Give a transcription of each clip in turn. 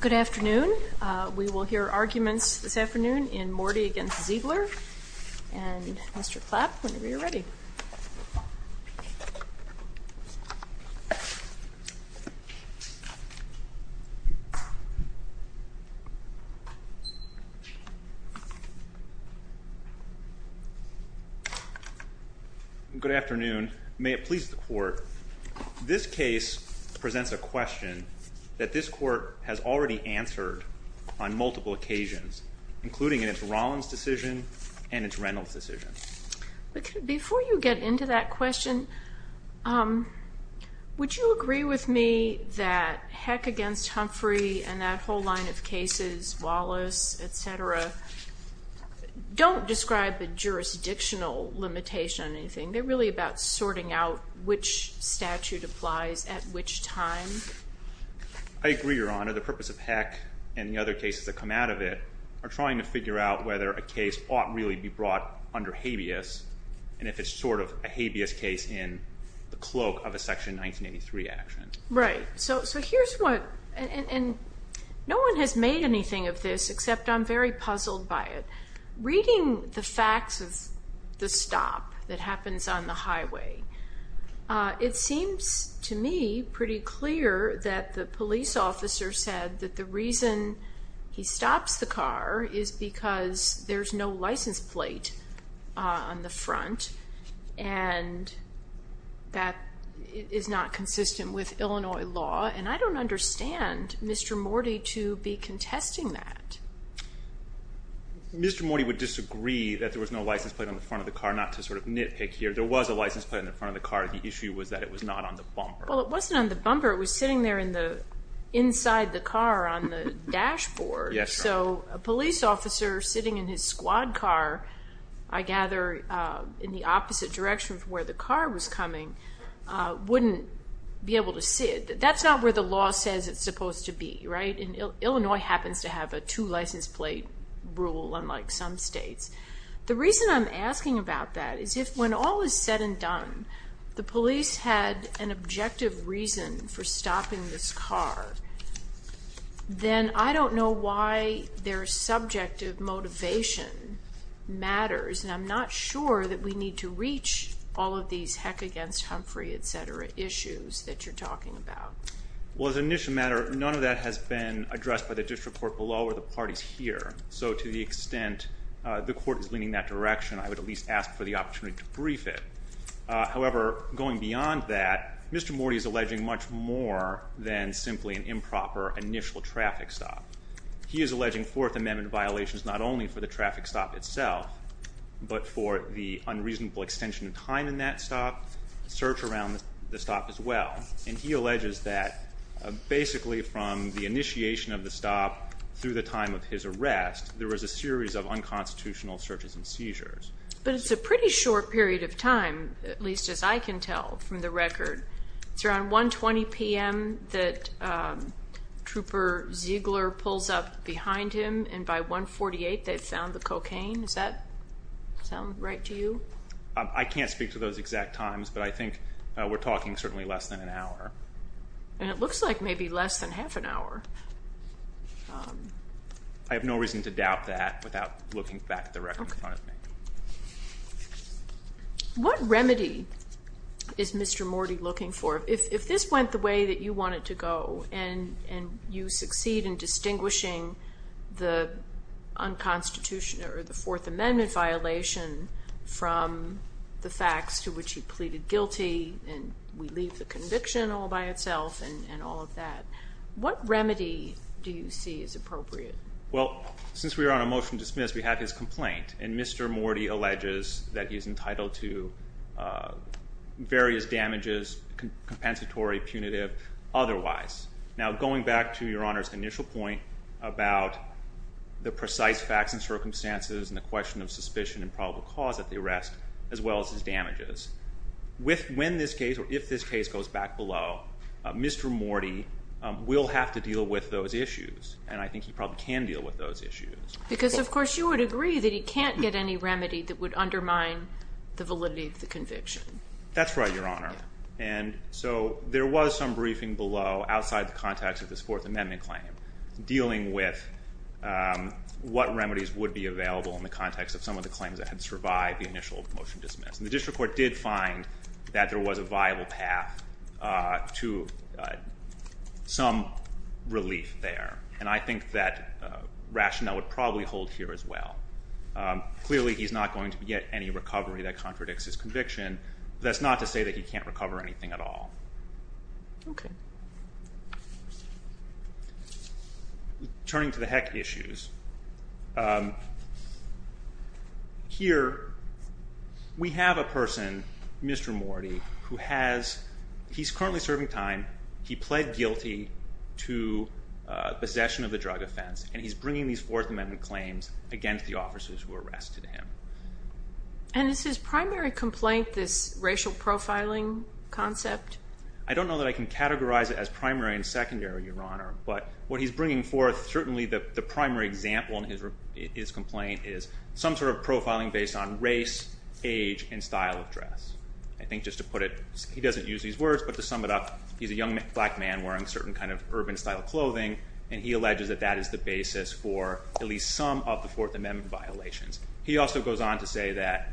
Good afternoon. We will hear arguments this afternoon in Mordi v. Zeigler, and Mr. Clapp, whenever you're ready. Good afternoon. May it please the Court, this case presents a question that this Court has already answered on multiple occasions, including in its Rollins decision and its Reynolds decision. Before you get into that question, would you agree with me that Heck v. Humphrey and that whole line of cases, Wallace, etc., don't describe the jurisdictional limitation on anything? They're really about sorting out which statute applies at which time. I agree, Your Honor. The purpose of Heck and the other cases that come out of it are trying to figure out whether a case ought really be brought under habeas, and if it's sort of a habeas case in the cloak of a Section 1983 action. Right. No one has made anything of this, except I'm very puzzled by it. Reading the facts of the stop that happens on the highway, it seems to me pretty clear that the police officer said that the reason he stops the car is because there's no license plate on the front, and that is not consistent with Illinois law, and I don't understand Mr. Mordi to be contesting that. Mr. Mordi would disagree that there was no license plate on the front of the car, not to sort of nitpick here. There was a license plate on the front of the car. The issue was that it was not on the bumper. Well, it wasn't on the bumper. It was sitting there inside the car on the dashboard. Yes, Your Honor. So a police officer sitting in his squad car, I gather, in the opposite direction from where the car was coming, wouldn't be able to see it. That's not where the law says it's supposed to be, right? Illinois happens to have a two license plate rule, unlike some states. The reason I'm asking about that is if, when all is said and done, the police had an objective reason for stopping this car, then I don't know why their subjective motivation matters, and I'm not sure that we need to reach all of these heck against Humphrey, etc. issues that you're talking about. Well, as an initial matter, none of that has been addressed by the district court below or the parties here. So to the extent the court is leaning that direction, I would at least ask for the opportunity to brief it. However, going beyond that, Mr. Mordi is alleging much more than simply an improper initial traffic stop. He is alleging Fourth Amendment violations not only for the traffic stop itself, but for the unreasonable extension of time in that stop, search around the stop as well. And he alleges that basically from the initiation of the stop through the time of his arrest, there was a series of unconstitutional searches and seizures. But it's a pretty short period of time, at least as I can tell from the record. It's around 1.20 p.m. that Trooper Ziegler pulls up behind him, and by 1.48 they've found the cocaine. Does that sound right to you? I can't speak to those exact times, but I think we're talking certainly less than an hour. And it looks like maybe less than half an hour. I have no reason to doubt that without looking back at the record in front of me. What remedy is Mr. Mordi looking for? If this went the way that you want it to go, and you succeed in distinguishing the Fourth Amendment violation from the facts to which he pleaded guilty, and we leave the conviction all by itself and all of that, what remedy do you see as appropriate? Well, since we're on a motion to dismiss, we have his complaint. And Mr. Mordi alleges that he's entitled to various damages, compensatory, punitive, otherwise. Now, going back to Your Honor's initial point about the precise facts and circumstances and the question of suspicion and probable cause of the arrest, as well as his damages. When this case or if this case goes back below, Mr. Mordi will have to deal with those issues. And I think he probably can deal with those issues. Because, of course, you would agree that he can't get any remedy that would undermine the validity of the conviction. That's right, Your Honor. And so there was some briefing below outside the context of this Fourth Amendment claim, dealing with what remedies would be available in the context of some of the claims that had survived the initial motion to dismiss. And the district court did find that there was a viable path to some relief there. And I think that rationale would probably hold here as well. Clearly, he's not going to get any recovery that contradicts his conviction. That's not to say that he can't recover anything at all. Okay. Turning to the heck issues. Here, we have a person, Mr. Mordi, who has – he's currently serving time. He pled guilty to possession of a drug offense. And he's bringing these Fourth Amendment claims against the officers who arrested him. And is his primary complaint this racial profiling concept? I don't know that I can categorize it as primary and secondary, Your Honor. But what he's bringing forth, certainly the primary example in his complaint is some sort of profiling based on race, age, and style of dress. I think just to put it – he doesn't use these words, but to sum it up, he's a young black man wearing certain kind of urban style clothing, and he alleges that that is the basis for at least some of the Fourth Amendment violations. He also goes on to say that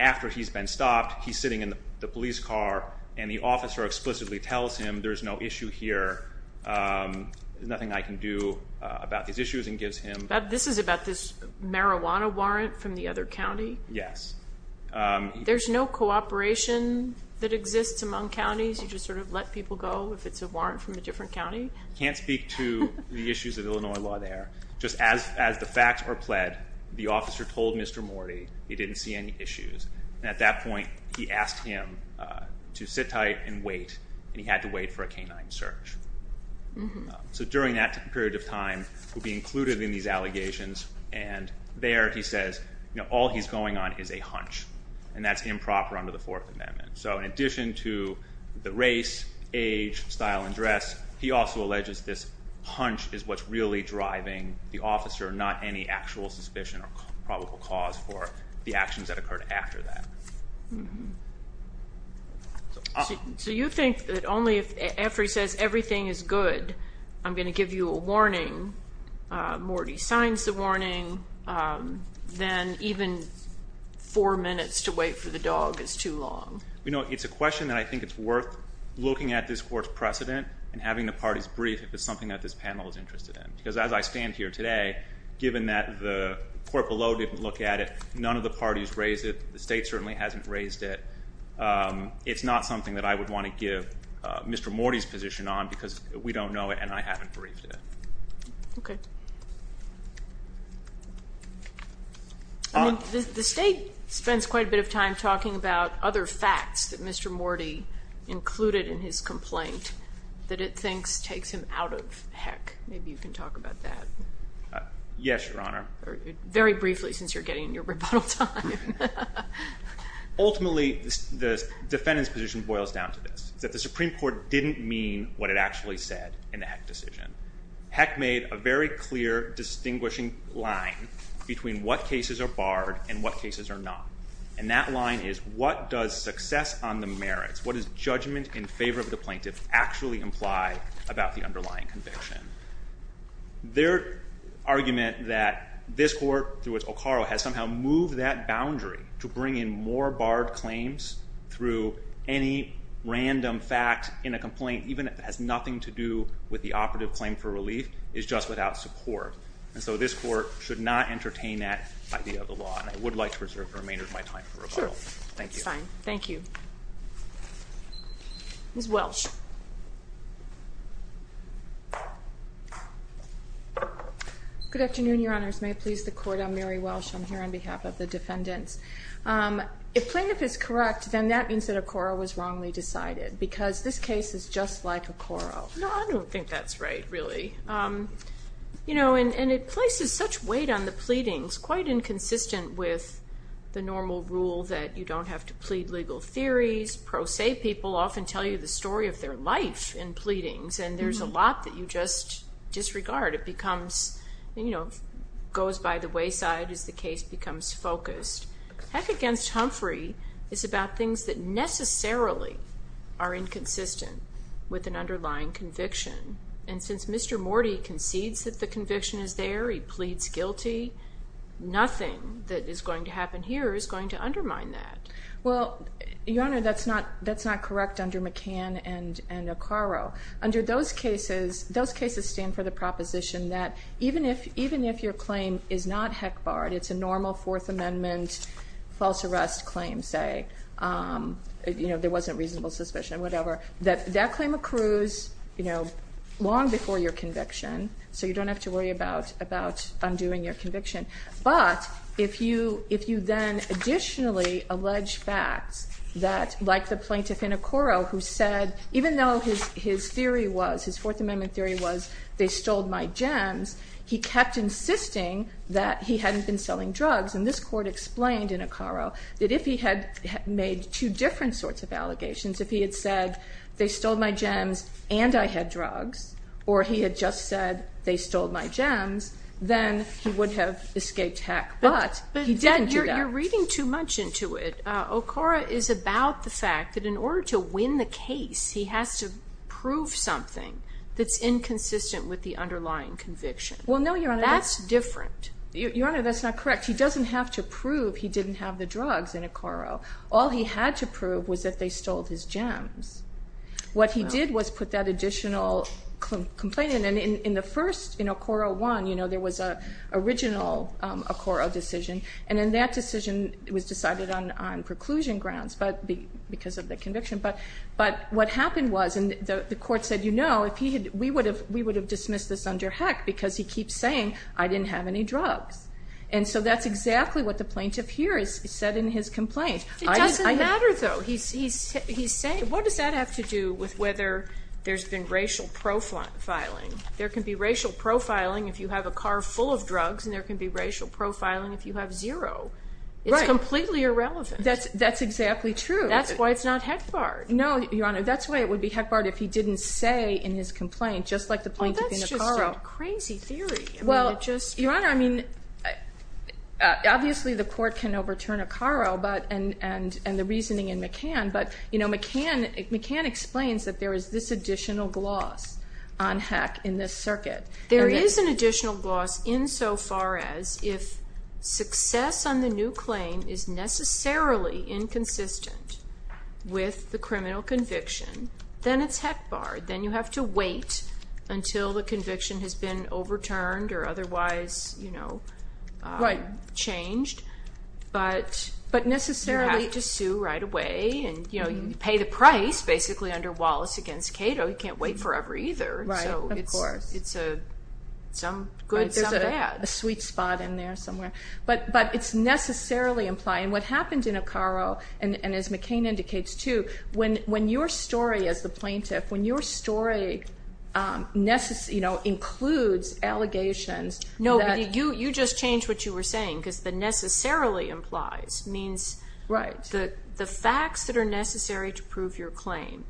after he's been stopped, he's sitting in the police car, and the officer explicitly tells him there's no issue here, there's nothing I can do about these issues, and gives him – This is about this marijuana warrant from the other county? Yes. There's no cooperation that exists among counties? You just sort of let people go if it's a warrant from a different county? I can't speak to the issues of Illinois law there. Just as the facts were pled, the officer told Mr. Mordi he didn't see any issues. At that point, he asked him to sit tight and wait, and he had to wait for a canine search. So during that period of time, he'll be included in these allegations, and there he says all he's going on is a hunch, and that's improper under the Fourth Amendment. So in addition to the race, age, style, and dress, he also alleges this hunch is what's really driving the officer, not any actual suspicion or probable cause for the actions that occurred after that. So you think that only after he says everything is good, I'm going to give you a warning, Mordi signs the warning, then even four minutes to wait for the dog is too long? You know, it's a question that I think is worth looking at this court's precedent and having the parties brief if it's something that this panel is interested in. Because as I stand here today, given that the court below didn't look at it, none of the parties raised it, the state certainly hasn't raised it, it's not something that I would want to give Mr. Mordi's position on because we don't know it and I haven't briefed it. Okay. The state spends quite a bit of time talking about other facts that Mr. Mordi included in his complaint that it thinks takes him out of HECC. Maybe you can talk about that. Yes, Your Honor. Very briefly since you're getting your rebuttal time. Ultimately, the defendant's position boils down to this, that the Supreme Court didn't mean what it actually said in the HECC decision. HECC made a very clear distinguishing line between what cases are barred and what cases are not. And that line is what does success on the merits, what does judgment in favor of the plaintiff actually imply about the underlying conviction. Their argument that this court, through which O'Connor has somehow moved that boundary to bring in more barred claims through any random fact in a complaint, even if it has nothing to do with the operative claim for relief, is just without support. And so this court should not entertain that idea of the law. And I would like to preserve the remainder of my time for rebuttal. Sure. Thank you. That's fine. Thank you. Ms. Welsh. Good afternoon, Your Honors. May it please the Court, I'm Mary Welsh. I'm here on behalf of the defendants. If plaintiff is correct, then that means that a coro was wrongly decided, because this case is just like a coro. No, I don't think that's right, really. You know, and it places such weight on the pleadings, it's quite inconsistent with the normal rule that you don't have to plead legal theories. Pro se people often tell you the story of their life in pleadings, and there's a lot that you just disregard. It becomes, you know, goes by the wayside as the case becomes focused. Heck against Humphrey is about things that necessarily are inconsistent with an underlying conviction. And since Mr. Morty concedes that the conviction is there, he pleads guilty, nothing that is going to happen here is going to undermine that. Well, Your Honor, that's not correct under McCann and O'Carroll. Under those cases, those cases stand for the proposition that even if your claim is not heck barred, it's a normal Fourth Amendment false arrest claim, say, you know, there wasn't reasonable suspicion, whatever, that that claim accrues, you know, long before your conviction, so you don't have to worry about undoing your conviction. But if you then additionally allege facts that, like the plaintiff in O'Carroll, who said even though his theory was, his Fourth Amendment theory was, they stole my gems, he kept insisting that he hadn't been selling drugs. And this court explained in O'Carroll that if he had made two different sorts of allegations, if he had said they stole my gems and I had drugs, or he had just said they stole my gems, then he would have escaped heck, but he didn't do that. But you're reading too much into it. O'Carroll is about the fact that in order to win the case, he has to prove something that's inconsistent with the underlying conviction. Well, no, Your Honor. That's different. Your Honor, that's not correct. He doesn't have to prove he didn't have the drugs in O'Carroll. All he had to prove was that they stole his gems. What he did was put that additional complaint in, and in the first, in O'Carroll 1, you know, there was an original O'Carroll decision, and then that decision was decided on preclusion grounds because of the conviction. But what happened was, and the court said, you know, we would have dismissed this under heck because he keeps saying, I didn't have any drugs. And so that's exactly what the plaintiff here said in his complaint. It doesn't matter, though. He's saying, what does that have to do with whether there's been racial profiling? There can be racial profiling if you have a car full of drugs, and there can be racial profiling if you have zero. It's completely irrelevant. That's exactly true. That's why it's not heck barred. No, Your Honor, that's why it would be heck barred if he didn't say in his complaint, just like the plaintiff in O'Carroll. Well, that's just a crazy theory. Well, Your Honor, I mean, obviously the court can overturn O'Carroll and the reasoning in McCann, but, you know, McCann explains that there is this additional gloss on heck in this circuit. There is an additional gloss insofar as if success on the new claim is necessarily inconsistent with the criminal conviction, then it's heck barred. Then you have to wait until the conviction has been overturned or otherwise, you know, changed. But necessarily you have to sue right away. And, you know, you pay the price basically under Wallace against Cato. You can't wait forever either. Right, of course. So it's some good, some bad. There's a sweet spot in there somewhere. But it's necessarily implied. And what happened in O'Carroll, and as McCann indicates too, when your story as the plaintiff, when your story, you know, includes allegations. No, you just changed what you were saying because the necessarily implies means the facts that are necessary to prove your claim.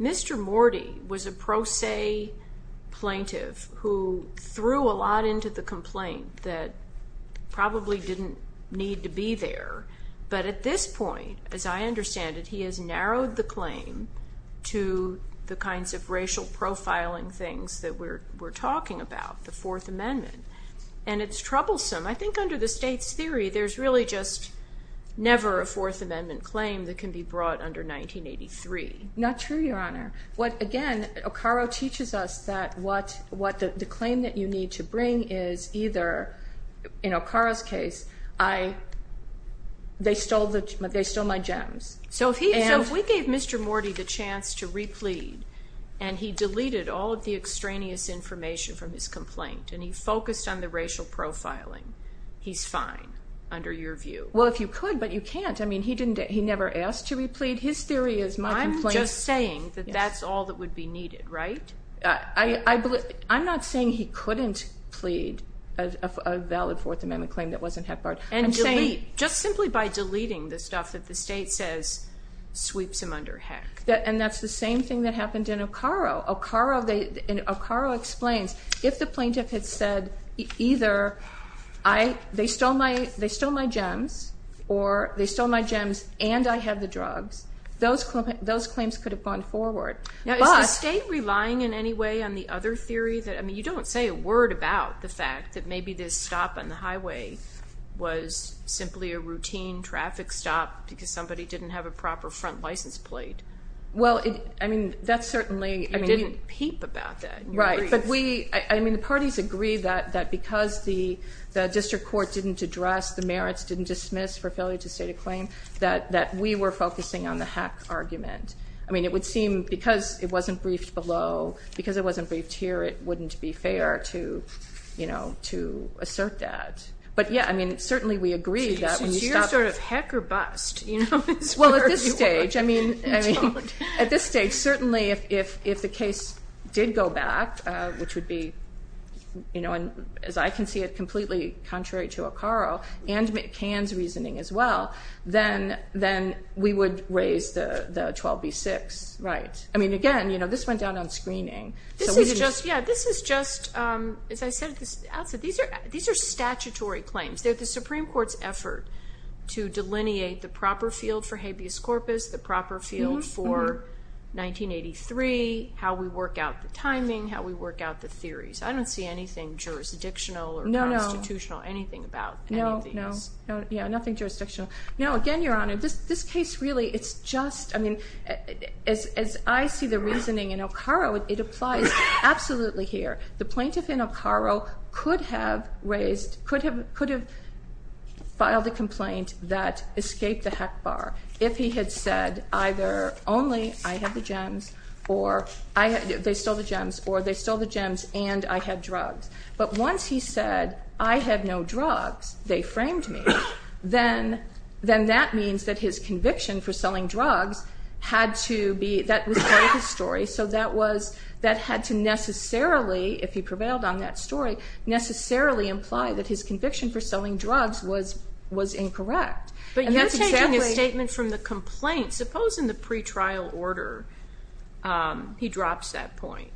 Mr. Morty was a pro se plaintiff who threw a lot into the complaint that probably didn't need to be there. But at this point, as I understand it, he has narrowed the claim to the kinds of racial profiling things that we're talking about, the Fourth Amendment. And it's troublesome. I think under the state's theory, there's really just never a Fourth Amendment claim that can be brought under 1983. Not true, Your Honor. Again, O'Carroll teaches us that the claim that you need to bring is either, in O'Carroll's case, they stole my gems. So if we gave Mr. Morty the chance to replead and he deleted all of the extraneous information from his complaint and he focused on the racial profiling, he's fine under your view. Well, if you could, but you can't. I mean, he never asked to replead. I mean, his theory is my complaint. I'm just saying that that's all that would be needed, right? I'm not saying he couldn't plead a valid Fourth Amendment claim that wasn't heck barred. And delete, just simply by deleting the stuff that the state says sweeps him under heck. And that's the same thing that happened in O'Carroll. O'Carroll explains, if the plaintiff had said either they stole my gems or they stole my gems and I had the drugs, those claims could have gone forward. Now, is the state relying in any way on the other theory? I mean, you don't say a word about the fact that maybe this stop on the highway was simply a routine traffic stop because somebody didn't have a proper front license plate. Well, I mean, that's certainly. You didn't peep about that. Right, but we, I mean, the parties agree that because the district court didn't address, the merits didn't dismiss for failure to state a claim, that we were focusing on the heck argument. I mean, it would seem because it wasn't briefed below, because it wasn't briefed here, it wouldn't be fair to assert that. But, yeah, I mean, certainly we agree that when you stop. So you're sort of heck or bust. Well, at this stage, I mean, at this stage, certainly if the case did go back, which would be, you know, as I can see it completely contrary to O'Carroll and McCann's reasoning as well, then we would raise the 12B-6. Right. I mean, again, you know, this went down on screening. This is just, yeah, this is just, as I said at the outset, these are statutory claims. They're the Supreme Court's effort to delineate the proper field for habeas corpus, the proper field for 1983, how we work out the timing, how we work out the theories. I don't see anything jurisdictional or constitutional, anything about any of these. No, no. Yeah, nothing jurisdictional. No, again, Your Honor, this case really, it's just, I mean, as I see the reasoning in O'Carroll, it applies absolutely here. The plaintiff in O'Carroll could have raised, could have filed a complaint that escaped the heck bar if he had said either only I have the gems or they stole the gems or they stole the gems and I had drugs. But once he said I have no drugs, they framed me, then that means that his conviction for selling drugs had to be, that was part of his story, so that had to necessarily, if he prevailed on that story, necessarily imply that his conviction for selling drugs was incorrect. But you're taking a statement from the complaint. Suppose in the pretrial order he drops that point,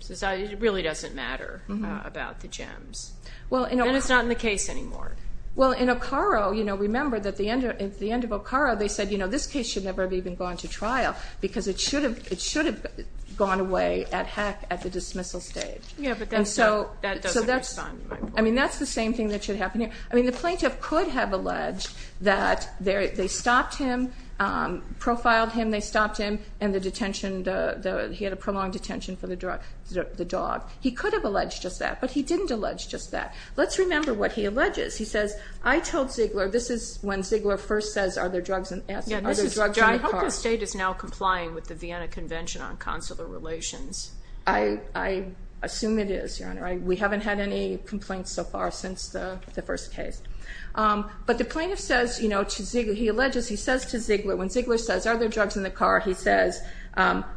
says it really doesn't matter about the gems. Then it's not in the case anymore. Well, in O'Carroll, remember that at the end of O'Carroll they said, you know, this case should never have even gone to trial because it should have gone away at heck at the dismissal stage. Yeah, but that doesn't respond to my point. I mean, that's the same thing that should happen here. I mean, the plaintiff could have alleged that they stopped him, profiled him, they stopped him, and the detention, he had a prolonged detention for the dog. He could have alleged just that, but he didn't allege just that. Let's remember what he alleges. He says, I told Ziegler, this is when Ziegler first says are there drugs in the car. I hope the state is now complying with the Vienna Convention on Consular Relations. I assume it is, Your Honor. We haven't had any complaints so far since the first case. But the plaintiff says, you know, to Ziegler, he alleges, he says to Ziegler, when Ziegler says are there drugs in the car, he says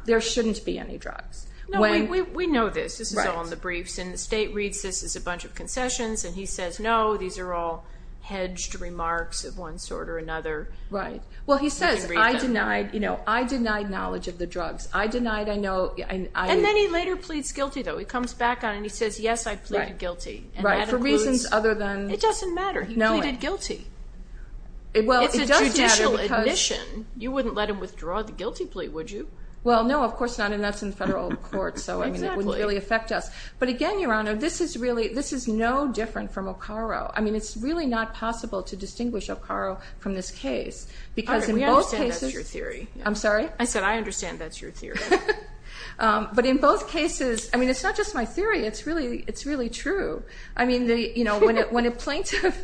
there shouldn't be any drugs. No, we know this. This is all in the briefs, and the state reads this as a bunch of concessions, and he says, no, these are all hedged remarks of one sort or another. Right. Well, he says, I denied, you know, I denied knowledge of the drugs. I denied I know. And then he later pleads guilty, though. He comes back on, and he says, yes, I pleaded guilty. Right, for reasons other than. It doesn't matter. He pleaded guilty. It's a judicial admission. You wouldn't let him withdraw the guilty plea, would you? Well, no, of course not, and that's in federal court, so it wouldn't really affect us. But again, Your Honor, this is really, this is no different from O'Carroll. I mean, it's really not possible to distinguish O'Carroll from this case. All right, we understand that's your theory. I'm sorry? I said I understand that's your theory. But in both cases, I mean, it's not just my theory. It's really true. I mean, you know, when a plaintiff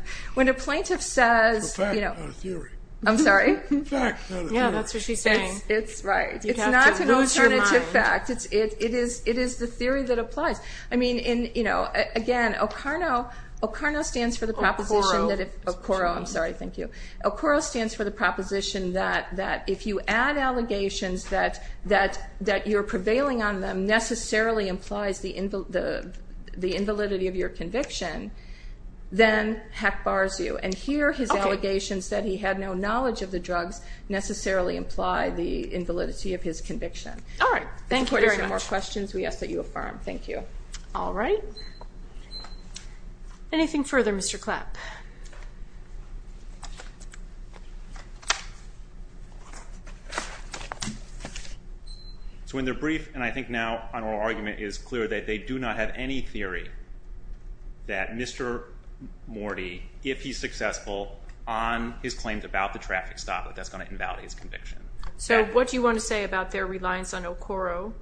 says, you know. It's a fact, not a theory. I'm sorry? Fact, not a theory. Yeah, that's what she's saying. It's right. You have to lose your mind. It's not an alternative fact. It is the theory that applies. I mean, you know, again, O'Carroll stands for the proposition that if... O'Carroll. O'Carroll, I'm sorry. Thank you. O'Carroll stands for the proposition that if you add allegations that you're prevailing on them necessarily implies the invalidity of your conviction, then heck bars you. And here his allegations that he had no knowledge of the drugs necessarily imply the invalidity of his conviction. All right. Thank you very much. If there are no more questions, we ask that you affirm. Thank you. All right. Anything further, Mr. Clapp? So in their brief, and I think now on oral argument, it is clear that they do not have any theory that Mr. Morty, if he's successful on his claims about the traffic stop, that that's going to invalidate his conviction. So what do you want to say about their reliance on O'Carroll?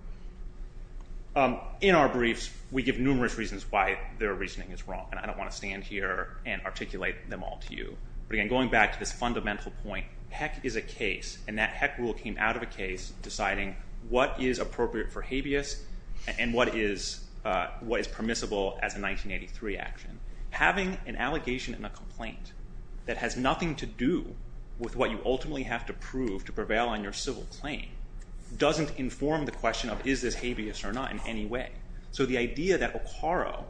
In our briefs, we give numerous reasons why their reasoning is wrong, and I don't want to stand here and articulate them all to you. But again, going back to this fundamental point, heck is a case and that heck rule came out of a case deciding what is appropriate for habeas and what is permissible as a 1983 action. Having an allegation and a complaint that has nothing to do with what you ultimately have to prove to prevail on your civil claim doesn't inform the question of is this habeas or not in any way. So the idea that O'Carroll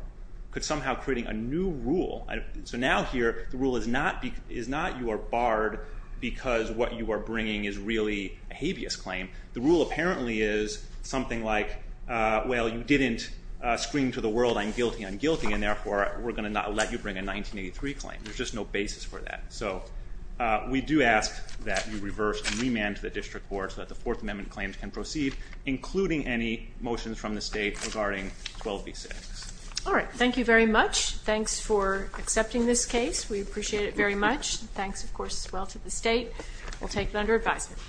could somehow create a new rule, so now here the rule is not you are barred because what you are bringing is really a habeas claim. The rule apparently is something like, well, you didn't scream to the world I'm guilty, I'm guilty, and therefore we're going to not let you bring a 1983 claim. There's just no basis for that. So we do ask that you reverse and remand to the district board so that the Fourth Amendment claims can proceed, including any motions from the state regarding 12b6. All right. Thank you very much. Thanks for accepting this case. We appreciate it very much. Thanks, of course, as well to the state. We'll take it under advisement. Thank you.